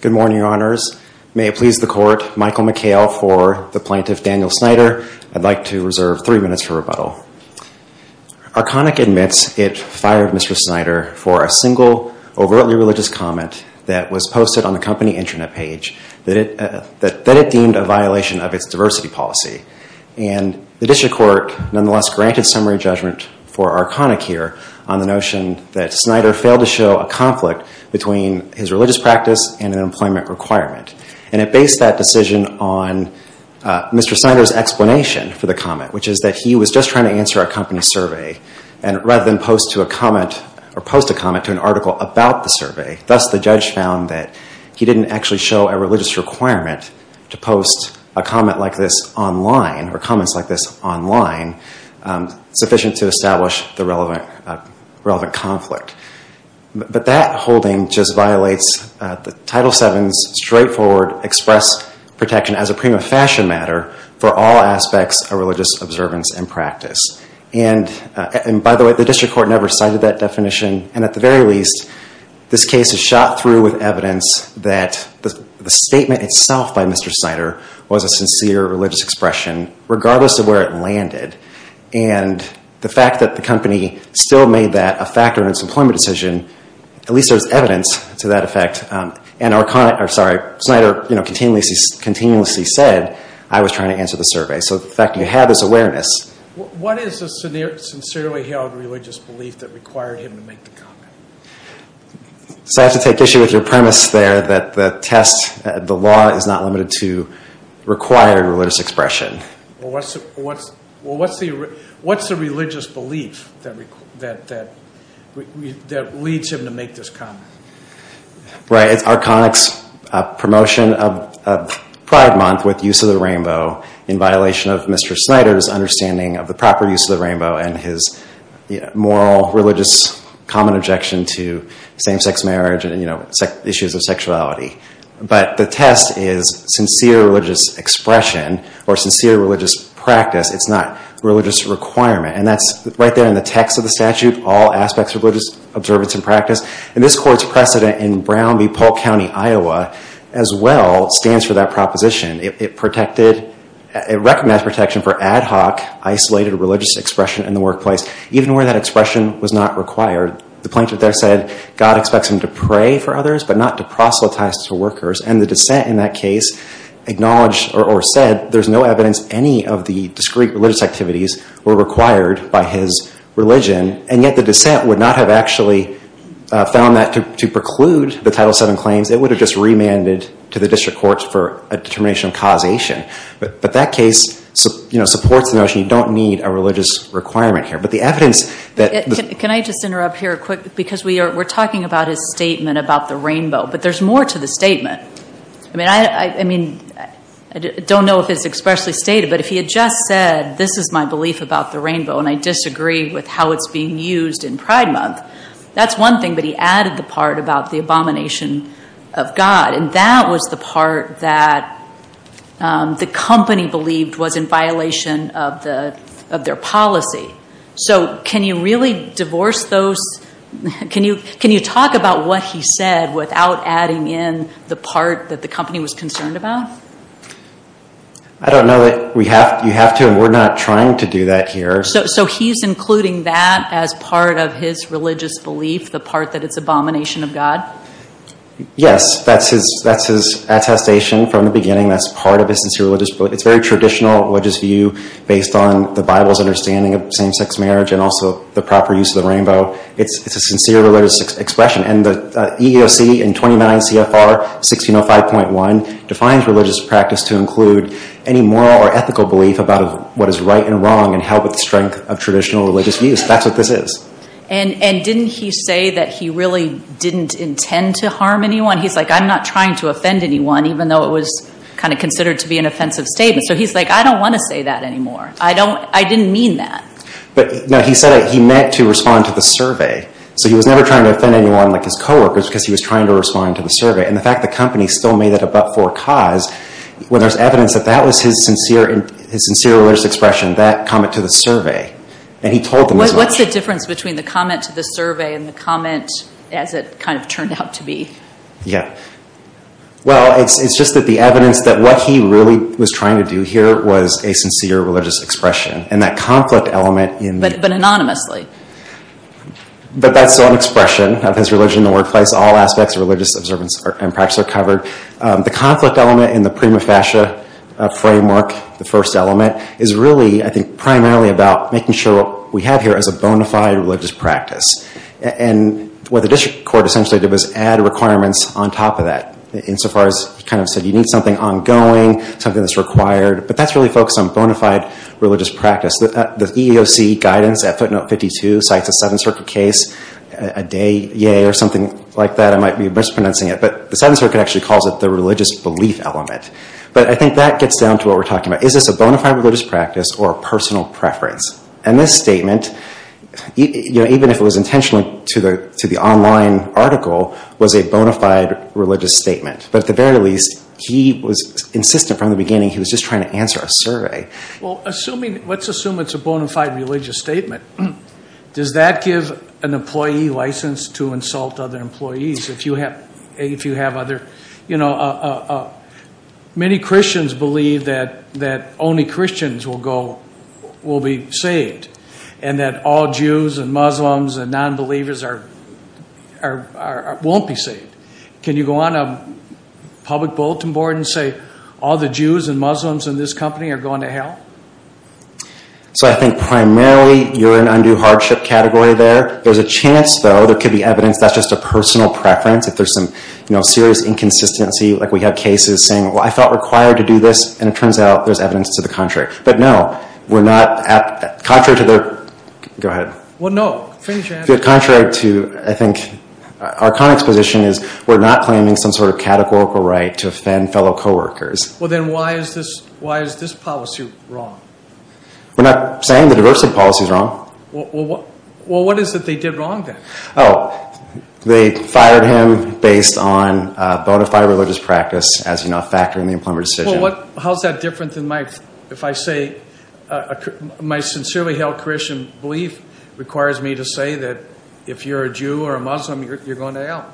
Good morning, Your Honors. May it please the Court, Michael McHale for the plaintiff Daniel Snyder. I'd like to reserve three minutes for rebuttal. Arconic admits it fired Mr. Snyder for a single overtly religious comment that was posted on the company intranet page that it deemed a violation of its diversity policy. And the district court nonetheless granted summary judgment for Arconic here on the notion that Snyder failed to show a conflict between his religious practice and an employment requirement. And it based that decision on Mr. Snyder's explanation for the comment, which is that he was just trying to answer a company survey. And rather than post a comment to an article about the survey, thus the judge found that he didn't actually show a religious requirement to post a comment like this online, or comments like this online, sufficient to establish the relevant conflict. But that holding just violates Title VII's straightforward express protection as a prima facie matter for all aspects of religious observance and practice. And by the way, the district court never cited that definition. And at the very least, this case is shot through with evidence that the statement itself by Mr. Snyder was a sincere religious expression, regardless of where it landed. And the fact that the company still made that a factor in its employment decision, at least there's evidence to that effect. And Arconic, or sorry, Snyder, you know, continuously said, I was trying to answer the survey. So the fact you have this awareness. What is the sincerely held religious belief that required him to make the comment? So I have to take issue with your premise there that the test, the law is not limited to required religious expression. Well, what's the religious belief that leads him to make this comment? Right, it's Arconic's promotion of Pride Month with use of the rainbow in violation of Mr. Snyder's understanding of the proper use of the rainbow and his moral, religious, common objection to same-sex marriage and issues of sexuality. But the test is sincere religious expression, or sincere religious practice. It's not religious requirement. And that's right there in the text of the statute, all aspects of religious observance and practice. And this Court's precedent in Brown v. Polk County, Iowa, as well, stands for that proposition. It recognized protection for ad hoc, isolated religious expression in the workplace, even where that expression was not required. The plaintiff there said God expects him to pray for others, but not to proselytize to workers. And the dissent in that case acknowledged or said there's no evidence any of the discreet religious activities were required by his religion. And yet the dissent would not have actually found that to preclude the Title VII claims. It would have just remanded to the district courts for a determination of causation. But that case supports the notion you don't need a religious requirement here. Can I just interrupt here a quick, because we're talking about his statement about the rainbow, but there's more to the statement. I mean, I don't know if it's expressly stated, but if he had just said this is my belief about the rainbow, and I disagree with how it's being used in Pride Month, that's one thing. But he added the part about the abomination of God, and that was the part that the company believed was in violation of their policy. So can you really divorce those? Can you talk about what he said without adding in the part that the company was concerned about? I don't know. You have to, and we're not trying to do that here. So he's including that as part of his religious belief, the part that it's abomination of God? Yes. That's his attestation from the beginning. That's part of his religious belief. It's a very traditional religious view based on the Bible's understanding of same-sex marriage and also the proper use of the rainbow. It's a sincere religious expression. And the EEOC in 29 CFR 1605.1 defines religious practice to include any moral or ethical belief about what is right and wrong and held with the strength of traditional religious views. That's what this is. And didn't he say that he really didn't intend to harm anyone? He's like, I'm not trying to offend anyone, even though it was kind of considered to be an offensive statement. So he's like, I don't want to say that anymore. I didn't mean that. But he said he meant to respond to the survey. So he was never trying to offend anyone like his coworkers because he was trying to respond to the survey. And the fact the company still made it a but-for cause, where there's evidence that that was his sincere religious expression, that comment to the survey. And he told them. What's the difference between the comment to the survey and the comment as it kind of turned out to be? Yeah. Well, it's just that the evidence that what he really was trying to do here was a sincere religious expression. And that conflict element in. But anonymously. But that's an expression of his religion in the workplace. All aspects of religious observance and practice are covered. The conflict element in the prima facie framework, the first element, is really, I think, primarily about making sure what we have here is a bona fide religious practice. And what the district court essentially did was add requirements on top of that. Insofar as he kind of said, you need something ongoing, something that's required. But that's really focused on bona fide religious practice. The EEOC guidance at footnote 52 cites a Seventh Circuit case. A day, yay, or something like that. I might be mispronouncing it. But the Seventh Circuit actually calls it the religious belief element. But I think that gets down to what we're talking about. Is this a bona fide religious practice or a personal preference? And this statement, even if it was intentional to the online article, was a bona fide religious statement. But at the very least, he was insistent from the beginning. He was just trying to answer a survey. Well, let's assume it's a bona fide religious statement. Does that give an employee license to insult other employees? If you have other, you know, many Christians believe that only Christians will be saved. And that all Jews and Muslims and nonbelievers won't be saved. Can you go on a public bulletin board and say all the Jews and Muslims in this company are going to hell? So I think primarily you're in undue hardship category there. There's a chance, though, there could be evidence that's just a personal preference. If there's some serious inconsistency, like we have cases saying, well, I felt required to do this. And it turns out there's evidence to the contrary. But no, we're not, contrary to their, go ahead. Well, no, finish your answer. Contrary to, I think, Arconic's position is we're not claiming some sort of categorical right to offend fellow coworkers. Well, then why is this policy wrong? We're not saying the diversity policy is wrong. Well, what is it they did wrong then? Oh, they fired him based on bona fide religious practice as, you know, factoring the employment decision. Well, how is that different than my, if I say, my sincerely held Christian belief requires me to say that if you're a Jew or a Muslim, you're going to hell?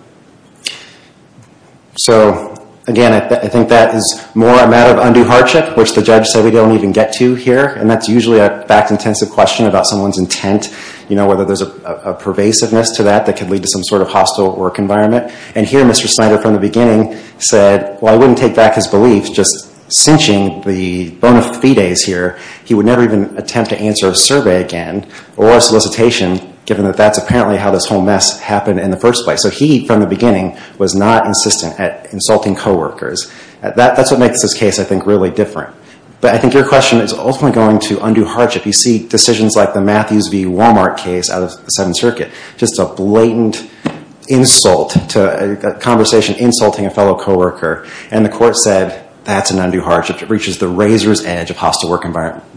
So, again, I think that is more a matter of undue hardship, which the judge said we don't even get to here. And that's usually a fact-intensive question about someone's intent, you know, whether there's a pervasiveness to that that could lead to some sort of hostile work environment. And here Mr. Snyder, from the beginning, said, well, I wouldn't take back his belief, just cinching the bona fides here. He would never even attempt to answer a survey again or a solicitation, given that that's apparently how this whole mess happened in the first place. So he, from the beginning, was not insistent at insulting coworkers. That's what makes this case, I think, really different. But I think your question is ultimately going to undue hardship. You see decisions like the Matthews v. Walmart case out of the Seventh Circuit, just a blatant insult to a conversation insulting a fellow coworker. And the court said, that's an undue hardship. It reaches the razor's edge of hostile work environment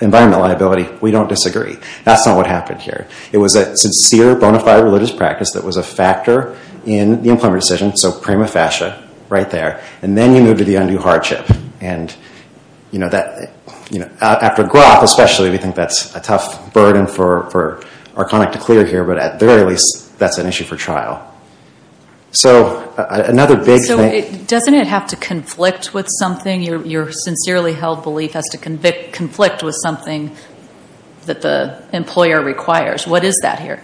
liability. We don't disagree. That's not what happened here. It was a sincere bona fide religious practice that was a factor in the employment decision, so prima facie, right there. And then you move to the undue hardship. And after a growth, especially, we think that's a tough burden for Arconic to clear here. But at the very least, that's an issue for trial. So another big thing— So doesn't it have to conflict with something? Your sincerely held belief has to conflict with something that the employer requires. What is that here?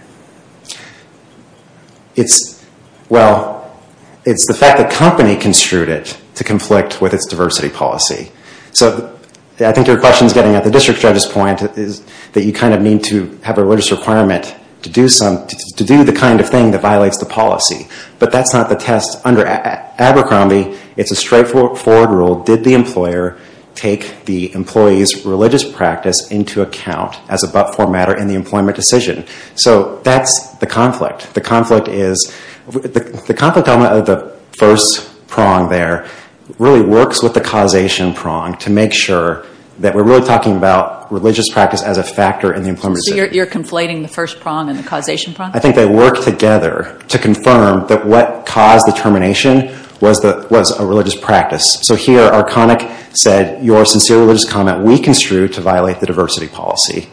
Well, it's the fact that company construed it to conflict with its diversity policy. So I think your question is getting at the district judge's point that you kind of need to have a religious requirement to do the kind of thing that violates the policy. But that's not the test. Under Abercrombie, it's a straightforward rule. Did the employer take the employee's religious practice into account as a but-for matter in the employment decision? So that's the conflict. The conflict is—the conflict element of the first prong there really works with the causation prong to make sure that we're really talking about religious practice as a factor in the employment decision. So you're conflating the first prong and the causation prong? I think they work together to confirm that what caused the termination was a religious practice. So here, Arconic said, your sincere religious comment, we construed to violate the diversity policy.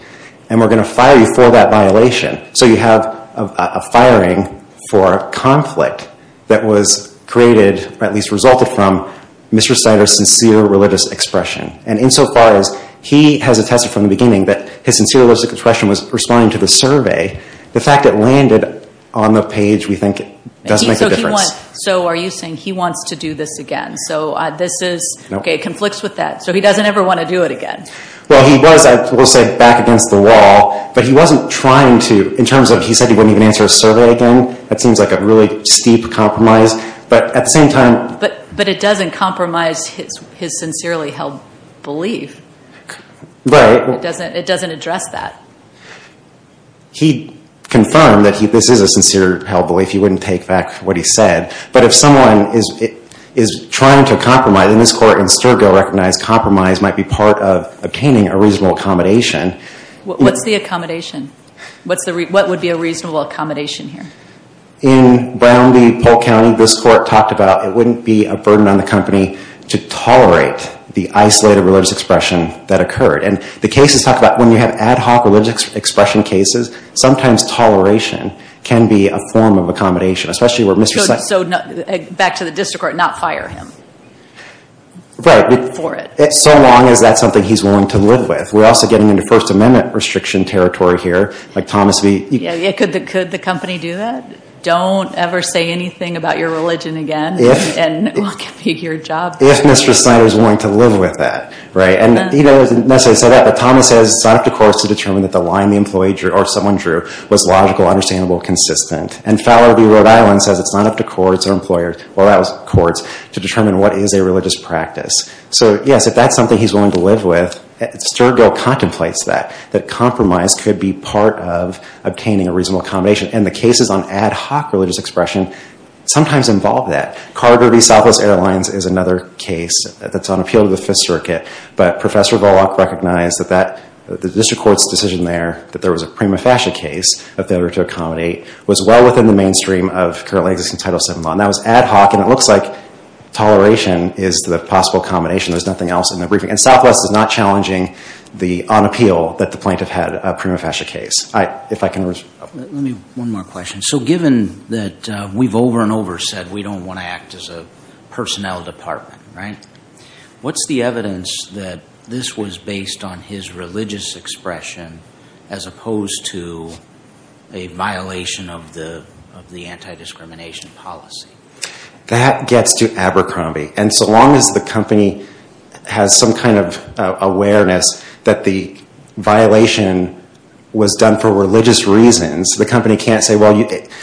And we're going to fire you for that violation. So you have a firing for conflict that was created, or at least resulted from, Mr. Snyder's sincere religious expression. And insofar as he has attested from the beginning that his sincere religious expression was responding to the survey, the fact that it landed on the page, we think, does make a difference. So are you saying he wants to do this again? So this is—OK, it conflicts with that. So he doesn't ever want to do it again? Well, he was, I will say, back against the wall. But he wasn't trying to—in terms of he said he wouldn't even answer a survey again, that seems like a really steep compromise. But at the same time— But it doesn't compromise his sincerely held belief. Right. It doesn't address that. He confirmed that this is a sincere held belief. He wouldn't take back what he said. But if someone is trying to compromise, and this Court in Sturgill recognized compromise might be part of obtaining a reasonable accommodation— What's the accommodation? What would be a reasonable accommodation here? In Brown v. Polk County, this Court talked about it wouldn't be a burden on the company to tolerate the isolated religious expression that occurred. And the cases talk about when you have ad hoc religious expression cases, sometimes toleration can be a form of accommodation, especially where Mr.— So back to the district court, not fire him. Right. For it. So long as that's something he's willing to live with. We're also getting into First Amendment restriction territory here. Like Thomas v.— Yeah, could the company do that? Don't ever say anything about your religion again. And what could be your job? If Mr. Snyder is willing to live with that, right? And he doesn't necessarily say that, but Thomas says it's not up to courts to determine that the line the employee drew or someone drew was logical, understandable, consistent. And Fowler v. Rhode Island says it's not up to courts to determine what is a religious practice. So, yes, if that's something he's willing to live with, Sturgill contemplates that, that compromise could be part of obtaining a reasonable accommodation. And the cases on ad hoc religious expression sometimes involve that. Carter v. Southwest Airlines is another case that's on appeal to the Fifth Circuit. But Professor Bullock recognized that the district court's decision there that there was a prima facie case of failure to accommodate was well within the mainstream of currently existing Title VII law. And that was ad hoc, and it looks like toleration is the possible accommodation. There's nothing else in the briefing. And Southwest is not challenging the on appeal that the plaintiff had, a prima facie case. If I can— Let me—one more question. So given that we've over and over said we don't want to act as a personnel department, right? What's the evidence that this was based on his religious expression as opposed to a violation of the anti-discrimination policy? That gets to Abercrombie. And so long as the company has some kind of awareness that the violation was done for religious reasons, the company can't say, well,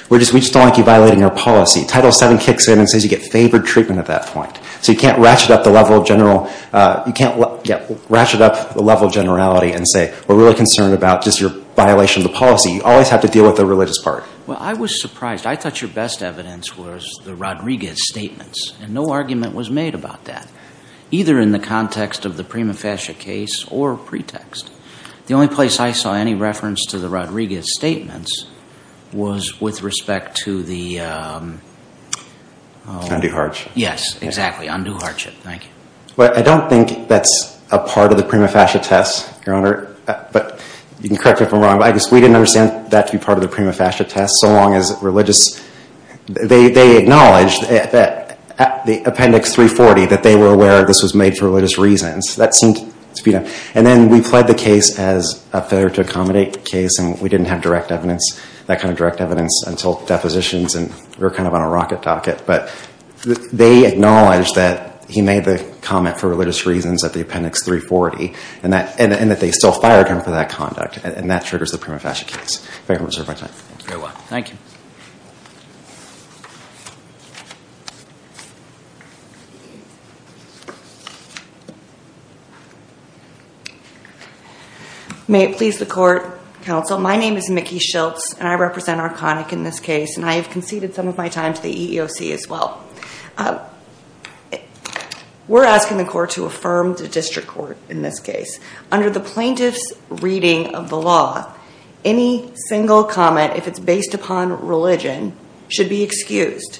we just don't like you violating our policy. Title VII kicks in and says you get favored treatment at that point. So you can't ratchet up the level of general—you can't ratchet up the level of generality and say we're really concerned about just your violation of the policy. You always have to deal with the religious part. Well, I was surprised. I thought your best evidence was the Rodriguez statements, and no argument was made about that, either in the context of the prima facie case or pretext. The only place I saw any reference to the Rodriguez statements was with respect to the— Undue hardship. Yes, exactly. Undue hardship. Thank you. Well, I don't think that's a part of the prima facie test, Your Honor. But you can correct me if I'm wrong, but I guess we didn't understand that to be part of the prima facie test so long as religious— they acknowledged at the Appendix 340 that they were aware this was made for religious reasons. And then we played the case as a failure to accommodate case, and we didn't have direct evidence, that kind of direct evidence until depositions, and we were kind of on a rocket docket. But they acknowledged that he made the comment for religious reasons at the Appendix 340, and that they still fired him for that conduct, and that triggers the prima facie case. If I can reserve my time. You're welcome. Thank you. May it please the Court, Counsel. My name is Mickey Schiltz, and I represent Arconic in this case, and I have conceded some of my time to the EEOC as well. We're asking the Court to affirm the district court in this case. Under the plaintiff's reading of the law, any single comment, if it's based upon religion, should be excused.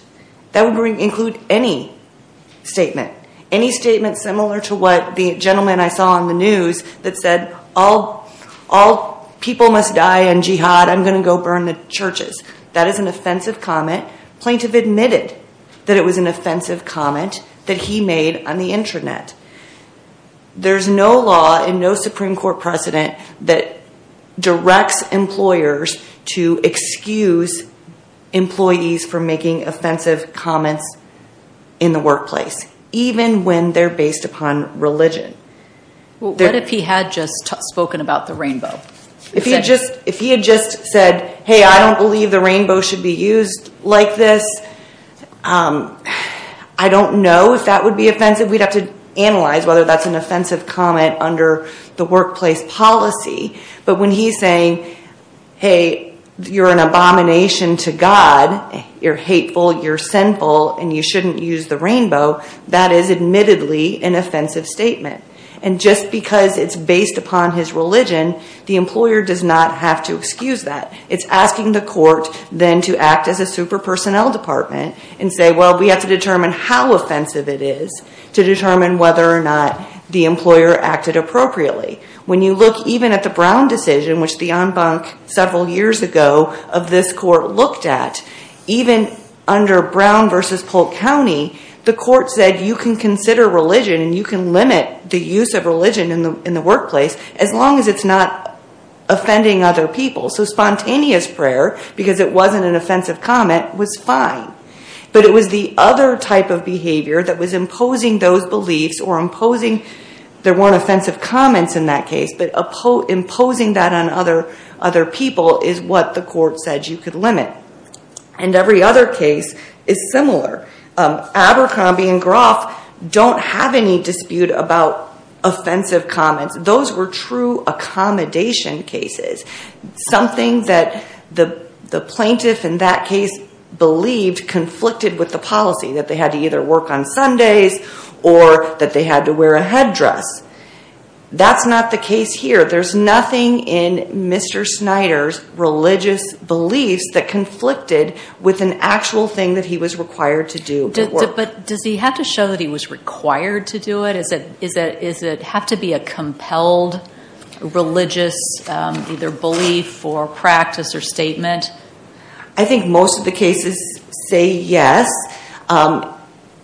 That would include any statement. Any statement similar to what the gentleman I saw on the news that said, all people must die in jihad, I'm going to go burn the churches. That is an offensive comment. Plaintiff admitted that it was an offensive comment that he made on the intranet. There's no law and no Supreme Court precedent that directs employers to excuse employees from making offensive comments in the workplace, even when they're based upon religion. What if he had just spoken about the rainbow? If he had just said, hey, I don't believe the rainbow should be used like this, I don't know if that would be offensive. We'd have to analyze whether that's an offensive comment under the workplace policy. But when he's saying, hey, you're an abomination to God, you're hateful, you're sinful, and you shouldn't use the rainbow, that is admittedly an offensive statement. And just because it's based upon his religion, the employer does not have to excuse that. It's asking the Court then to act as a super personnel department and say, well, we have to determine how offensive it is to determine whether or not the employer acted appropriately. When you look even at the Brown decision, which the en banc several years ago of this Court looked at, even under Brown versus Polk County, the Court said you can consider religion and you can limit the use of religion in the workplace as long as it's not offending other people. So spontaneous prayer, because it wasn't an offensive comment, was fine. But it was the other type of behavior that was imposing those beliefs or imposing there weren't offensive comments in that case, but imposing that on other people is what the Court said you could limit. And every other case is similar. Abercrombie and Groff don't have any dispute about offensive comments. Those were true accommodation cases, something that the plaintiff in that case believed conflicted with the policy, that they had to either work on Sundays or that they had to wear a headdress. That's not the case here. There's nothing in Mr. Snyder's religious beliefs that conflicted with an actual thing that he was required to do at work. But does he have to show that he was required to do it? Does it have to be a compelled religious belief or practice or statement? I think most of the cases say yes.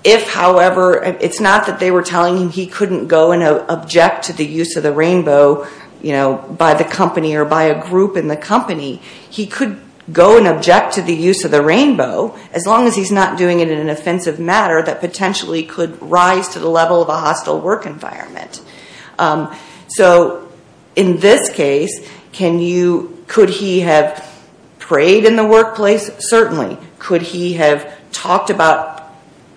It's not that they were telling him he couldn't go and object to the use of the rainbow by the company or by a group in the company. He could go and object to the use of the rainbow as long as he's not doing it in an offensive matter that potentially could rise to the level of a hostile work environment. So in this case, could he have prayed in the workplace? Certainly. Could he have talked about,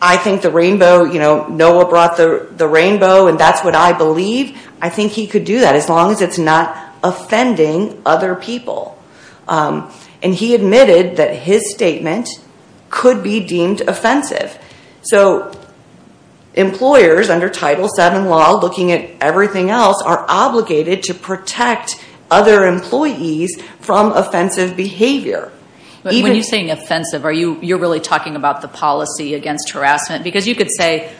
I think the rainbow, Noah brought the rainbow and that's what I believe. I think he could do that as long as it's not offending other people. And he admitted that his statement could be deemed offensive. So employers under Title VII law, looking at everything else, are obligated to protect other employees from offensive behavior. But when you're saying offensive, you're really talking about the policy against harassment? Because you could say,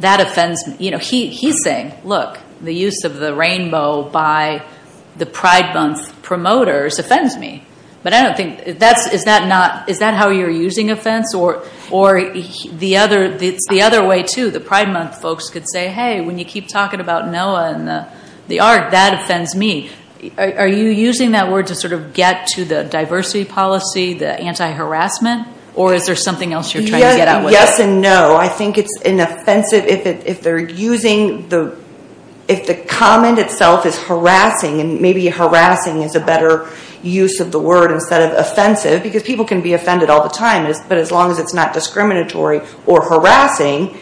that offends me. He's saying, look, the use of the rainbow by the Pride Month promoters offends me. But I don't think, is that how you're using offense? Or the other way too, the Pride Month folks could say, hey, when you keep talking about Noah and the art, that offends me. Are you using that word to sort of get to the diversity policy, the anti-harassment? Or is there something else you're trying to get at with it? Yes and no. I think it's an offensive, if they're using, if the comment itself is harassing, and maybe harassing is a better use of the word instead of offensive. Because people can be offended all the time, but as long as it's not discriminatory or harassing,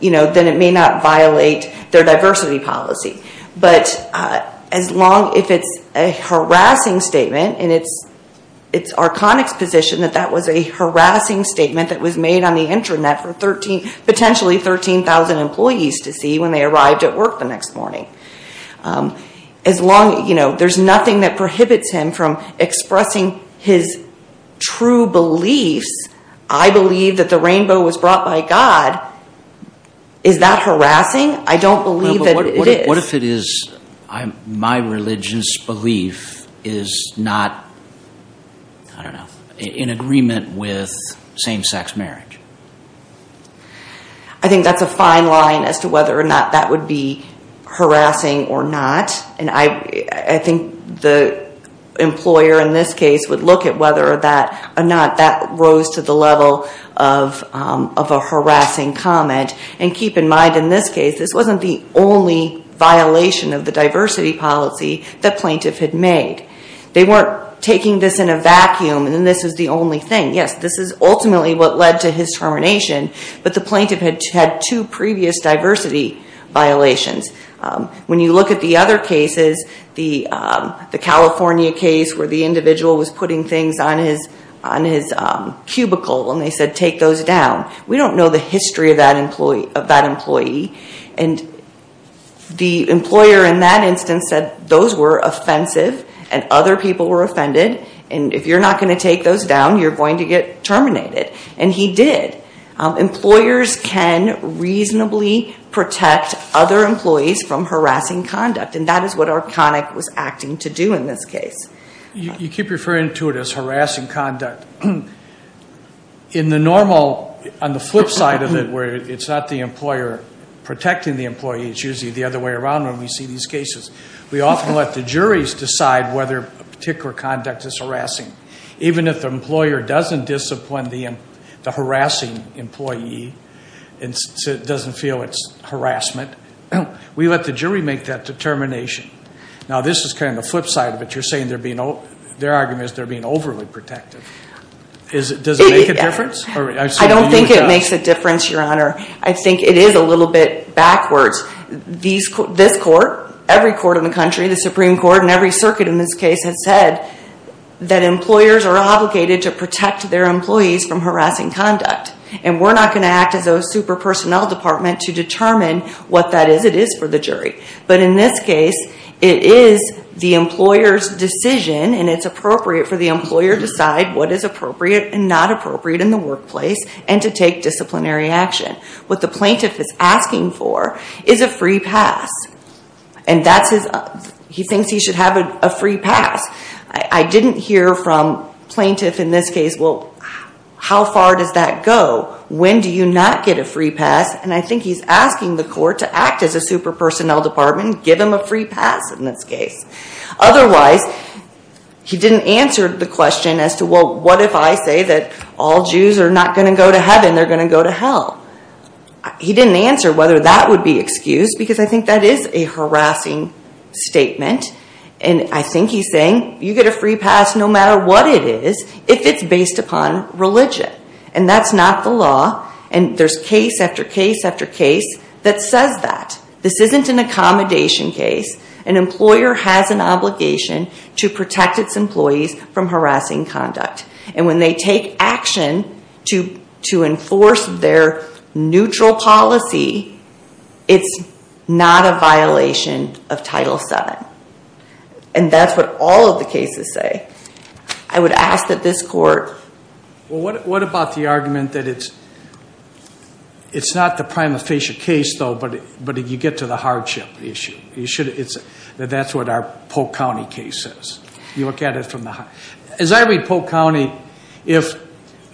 then it may not violate their diversity policy. But as long as it's a harassing statement, and it's Arconic's position that that was a harassing statement that was made on the intranet for potentially 13,000 employees to see when they arrived at work the next morning. There's nothing that prohibits him from expressing his true beliefs. I believe that the rainbow was brought by God. Is that harassing? I don't believe that it is. What if it is my religious belief is not in agreement with same-sex marriage? I think that's a fine line as to whether or not that would be harassing or not. And I think the employer in this case would look at whether or not that rose to the level of a harassing comment. And keep in mind in this case, this wasn't the only violation of the diversity policy the plaintiff had made. They weren't taking this in a vacuum, and this was the only thing. Yes, this is ultimately what led to his termination, but the plaintiff had two previous diversity violations. When you look at the other cases, the California case where the individual was putting things on his cubicle, and they said take those down, we don't know the history of that employee. And the employer in that instance said those were offensive, and other people were offended, and if you're not going to take those down, you're going to get terminated. And he did. Employers can reasonably protect other employees from harassing conduct, and that is what Arconic was acting to do in this case. You keep referring to it as harassing conduct. On the flip side of it, where it's not the employer protecting the employee, it's usually the other way around when we see these cases. We often let the juries decide whether a particular conduct is harassing. Even if the employer doesn't discipline the harassing employee and doesn't feel it's harassment, we let the jury make that determination. Now this is kind of the flip side of it. You're saying their argument is they're being overly protective. Does it make a difference? I don't think it makes a difference, Your Honor. I think it is a little bit backwards. This court, every court in the country, the Supreme Court, and every circuit in this case has said that employers are obligated to protect their employees from harassing conduct. And we're not going to act as a super personnel department to determine what that is it is for the jury. But in this case, it is the employer's decision and it's appropriate for the employer to decide what is appropriate and not appropriate in the workplace and to take disciplinary action. What the plaintiff is asking for is a free pass. And he thinks he should have a free pass. I didn't hear from plaintiff in this case, well, how far does that go? When do you not get a free pass? And I think he's asking the court to act as a super personnel department, give him a free pass in this case. Otherwise, he didn't answer the question as to, well, what if I say that all Jews are not going to go to heaven, they're going to go to hell? He didn't answer whether that would be excused, because I think that is a harassing statement. And I think he's saying, you get a free pass no matter what it is, if it's based upon religion. And that's not the law. And there's case after case after case that says that. This isn't an accommodation case. An employer has an obligation to protect its employees from harassing conduct. And when they take action to enforce their neutral policy, it's not a violation of Title VII. And that's what all of the cases say. I would ask that this court... Well, what about the argument that it's not the prima facie case, though, but you get to the hardship issue? That that's what our Polk County case is. You look at it from the... As I read Polk County, if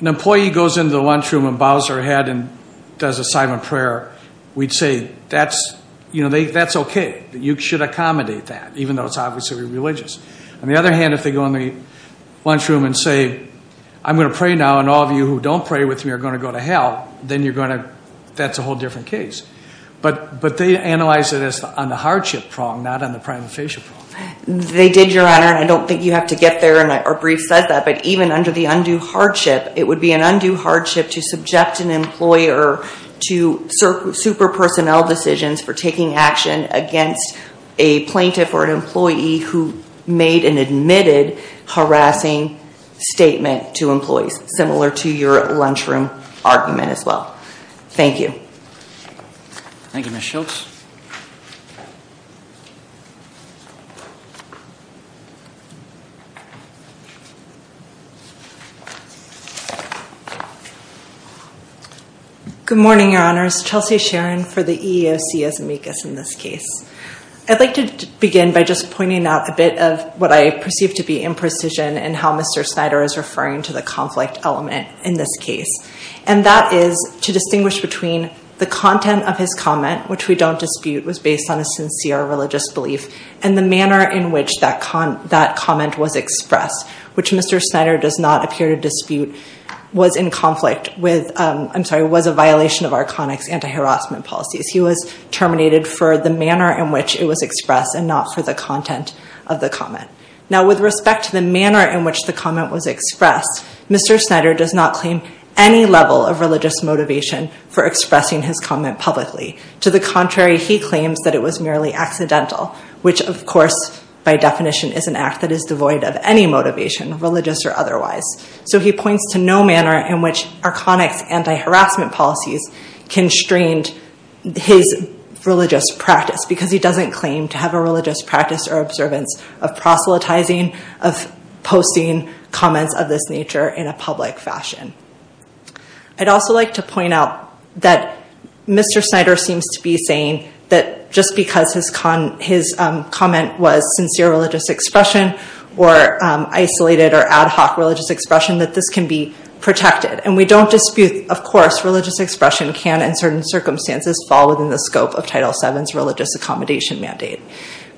an employee goes into the lunchroom and bows her head and does a silent prayer, we'd say, that's okay. You should accommodate that, even though it's obviously religious. On the other hand, if they go in the lunchroom and say, I'm going to pray now, and all of you who don't pray with me are going to go to hell, then that's a whole different case. But they analyze it as on the hardship prong, not on the prima facie prong. They did, Your Honor. And I don't think you have to get there. Our brief says that. But even under the undue hardship, it would be an undue hardship to subject an employer to super personnel decisions for taking action against a plaintiff or an employee who made an admitted harassing statement to employees, similar to your lunchroom argument as well. Thank you. Thank you, Ms. Schultz. Good morning, Your Honors. Chelsea Sharon for the EEOC as amicus in this case. I'd like to begin by just pointing out a bit of what I perceive to be imprecision and how Mr. Snyder is referring to the conflict element in this case. And that is to distinguish between the content of his comment, which we don't dispute, was based on a sincere religious belief, and the manner in which that comment was expressed, which Mr. Snyder does not appear to dispute, was in conflict with, I'm sorry, was a violation of Arconic's anti-harassment policies. He was terminated for the manner in which it was expressed and not for the content of the comment. Now, with respect to the manner in which the comment was expressed, Mr. Snyder does not claim any level of religious motivation for expressing his comment publicly. To the contrary, he claims that it was merely accidental, which, of course, by definition is an act that is devoid of any motivation, religious or otherwise. So he points to no manner in which Arconic's anti-harassment policies constrained his religious practice because he doesn't claim to have a religious practice or observance of proselytizing, of posting comments of this nature in a public fashion. I'd also like to point out that Mr. Snyder seems to be saying that just because his comment was sincere religious expression or isolated or ad hoc religious expression, that this can be protected. And we don't dispute, of course, religious expression can, in certain circumstances, fall within the scope of Title VII's religious accommodation mandate.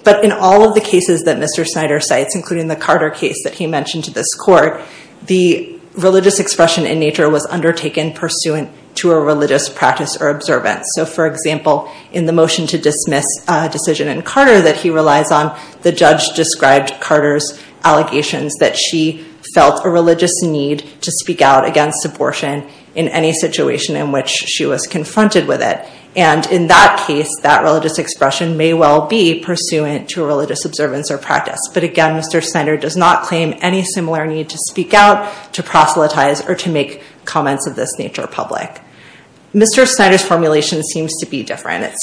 But in all of the cases that Mr. Snyder cites, including the Carter case that he mentioned to this court, the religious expression in nature was undertaken pursuant to a religious practice or observance. So, for example, in the motion to dismiss a decision in Carter that he relies on, the judge described Carter's allegations that she felt a religious need to speak out against abortion in any situation in which she was confronted with it. And in that case, that religious expression may well be pursuant to a religious observance or practice. But again, Mr. Snyder does not claim any similar need to speak out, to proselytize, or to make comments of this nature public. Mr. Snyder's formulation seems to be different.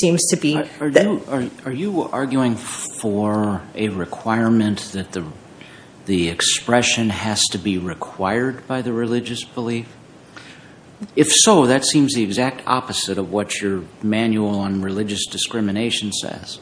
Are you arguing for a requirement that the expression has to be required by the religious belief? If so, that seems the exact opposite of what your manual on religious discrimination says.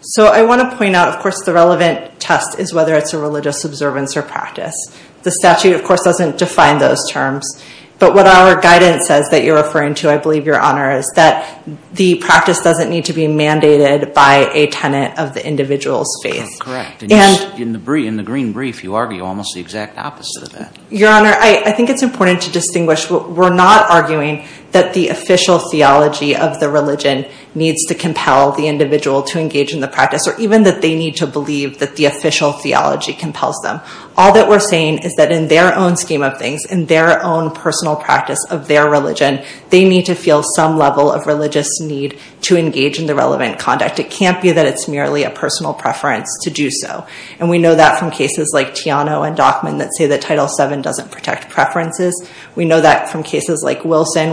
So I want to point out, of course, the relevant test is whether it's a religious observance or practice. The statute, of course, doesn't define those terms. But what our guidance says that you're referring to, I believe, Your Honor, is that the practice doesn't need to be mandated by a tenant of the individual's faith. Correct. In the green brief, you argue almost the exact opposite of that. Your Honor, I think it's important to distinguish. We're not arguing that the official theology of the religion needs to compel the individual to engage in the practice, or even that they need to believe that the official theology compels them. All that we're saying is that in their own scheme of things, in their own personal practice of their religion, they need to feel some level of religious need to engage in the relevant conduct. It can't be that it's merely a personal preference to do so. And we know that from cases like Tiano and Dockman that say that Title VII doesn't protect preferences. We know that from cases like Wilson,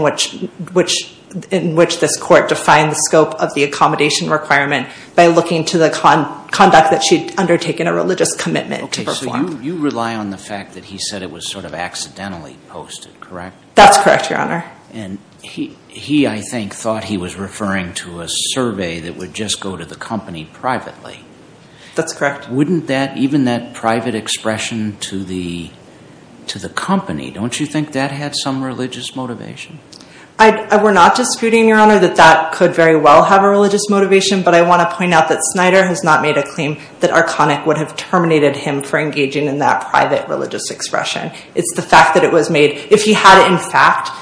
in which this court defined the scope of the accommodation requirement by looking to the conduct that she'd undertaken, a religious commitment to perform. So you rely on the fact that he said it was sort of accidentally posted, correct? That's correct, Your Honor. And he, I think, thought he was referring to a survey that would just go to the company privately. That's correct. Wouldn't that, even that private expression to the company, don't you think that had some religious motivation? We're not disputing, Your Honor, that that could very well have a religious motivation, but I want to point out that Snyder has not made a claim that Arconic would have terminated him for engaging in that private religious expression. It's the fact that it was made. If he had, in fact,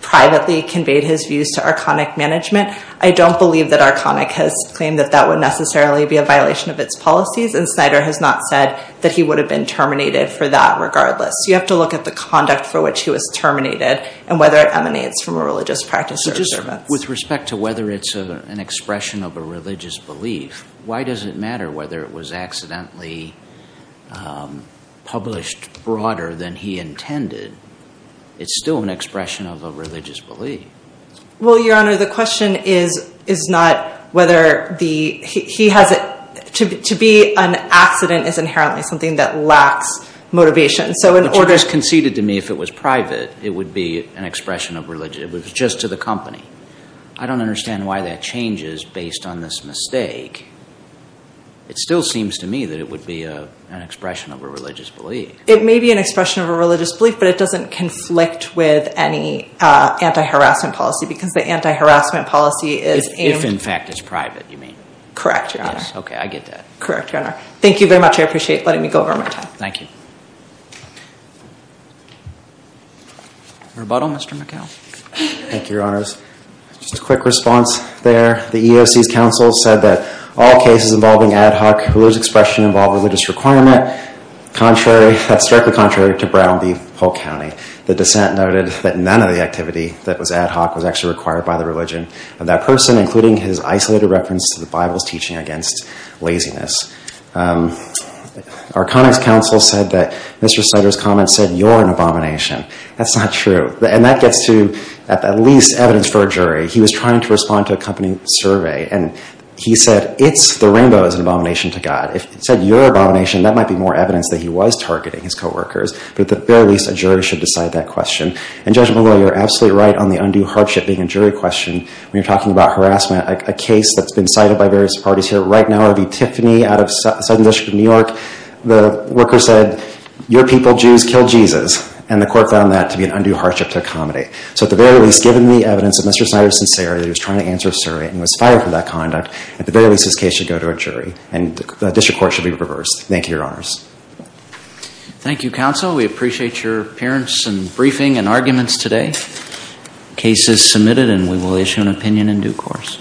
privately conveyed his views to Arconic management, I don't believe that Arconic has claimed that that would necessarily be a violation of its policies, and Snyder has not said that he would have been terminated for that regardless. You have to look at the conduct for which he was terminated and whether it emanates from a religious practice or observance. With respect to whether it's an expression of a religious belief, why does it matter whether it was accidentally published broader than he intended? It's still an expression of a religious belief. Well, Your Honor, the question is not whether he has it. To be an accident is inherently something that lacks motivation. But you just conceded to me if it was private, it would be an expression of religion. It was just to the company. I don't understand why that changes based on this mistake. It still seems to me that it would be an expression of a religious belief. It may be an expression of a religious belief, but it doesn't conflict with any anti-harassment policy because the anti-harassment policy is aimed— If, in fact, it's private, you mean? Correct, Your Honor. Okay, I get that. Correct, Your Honor. Thank you very much. I appreciate letting me go over my time. Thank you. Rebuttal, Mr. McHale? Thank you, Your Honors. Just a quick response there. The EEOC's counsel said that all cases involving ad hoc, whose expression involved religious requirement, that's directly contrary to Brown v. Polk County. The dissent noted that none of the activity that was ad hoc was actually required by the religion of that person, including his isolated reference to the Bible's teaching against laziness. Our comments counsel said that Mr. Snyder's comments said, you're an abomination. That's not true. And that gets to at least evidence for a jury. He was trying to respond to a company survey, and he said, it's the rainbow is an abomination to God. If it said you're an abomination, that might be more evidence that he was targeting his coworkers. But at the very least, a jury should decide that question. And, Judge McGraw, you're absolutely right on the undue hardship being a jury question when you're talking about harassment. A case that's been cited by various parties here right now would be Tiffany out of Southern District of New York. The worker said, your people, Jews, killed Jesus. And the court found that to be an undue hardship to accommodate. So at the very least, given the evidence that Mr. Snyder is sincere, that he was trying to answer a survey and was fired for that conduct, at the very least, this case should go to a jury. And the district court should be reversed. Thank you, Your Honors. Thank you, Counsel. We appreciate your appearance and briefing and arguments today. The case is submitted, and we will issue an opinion in due course.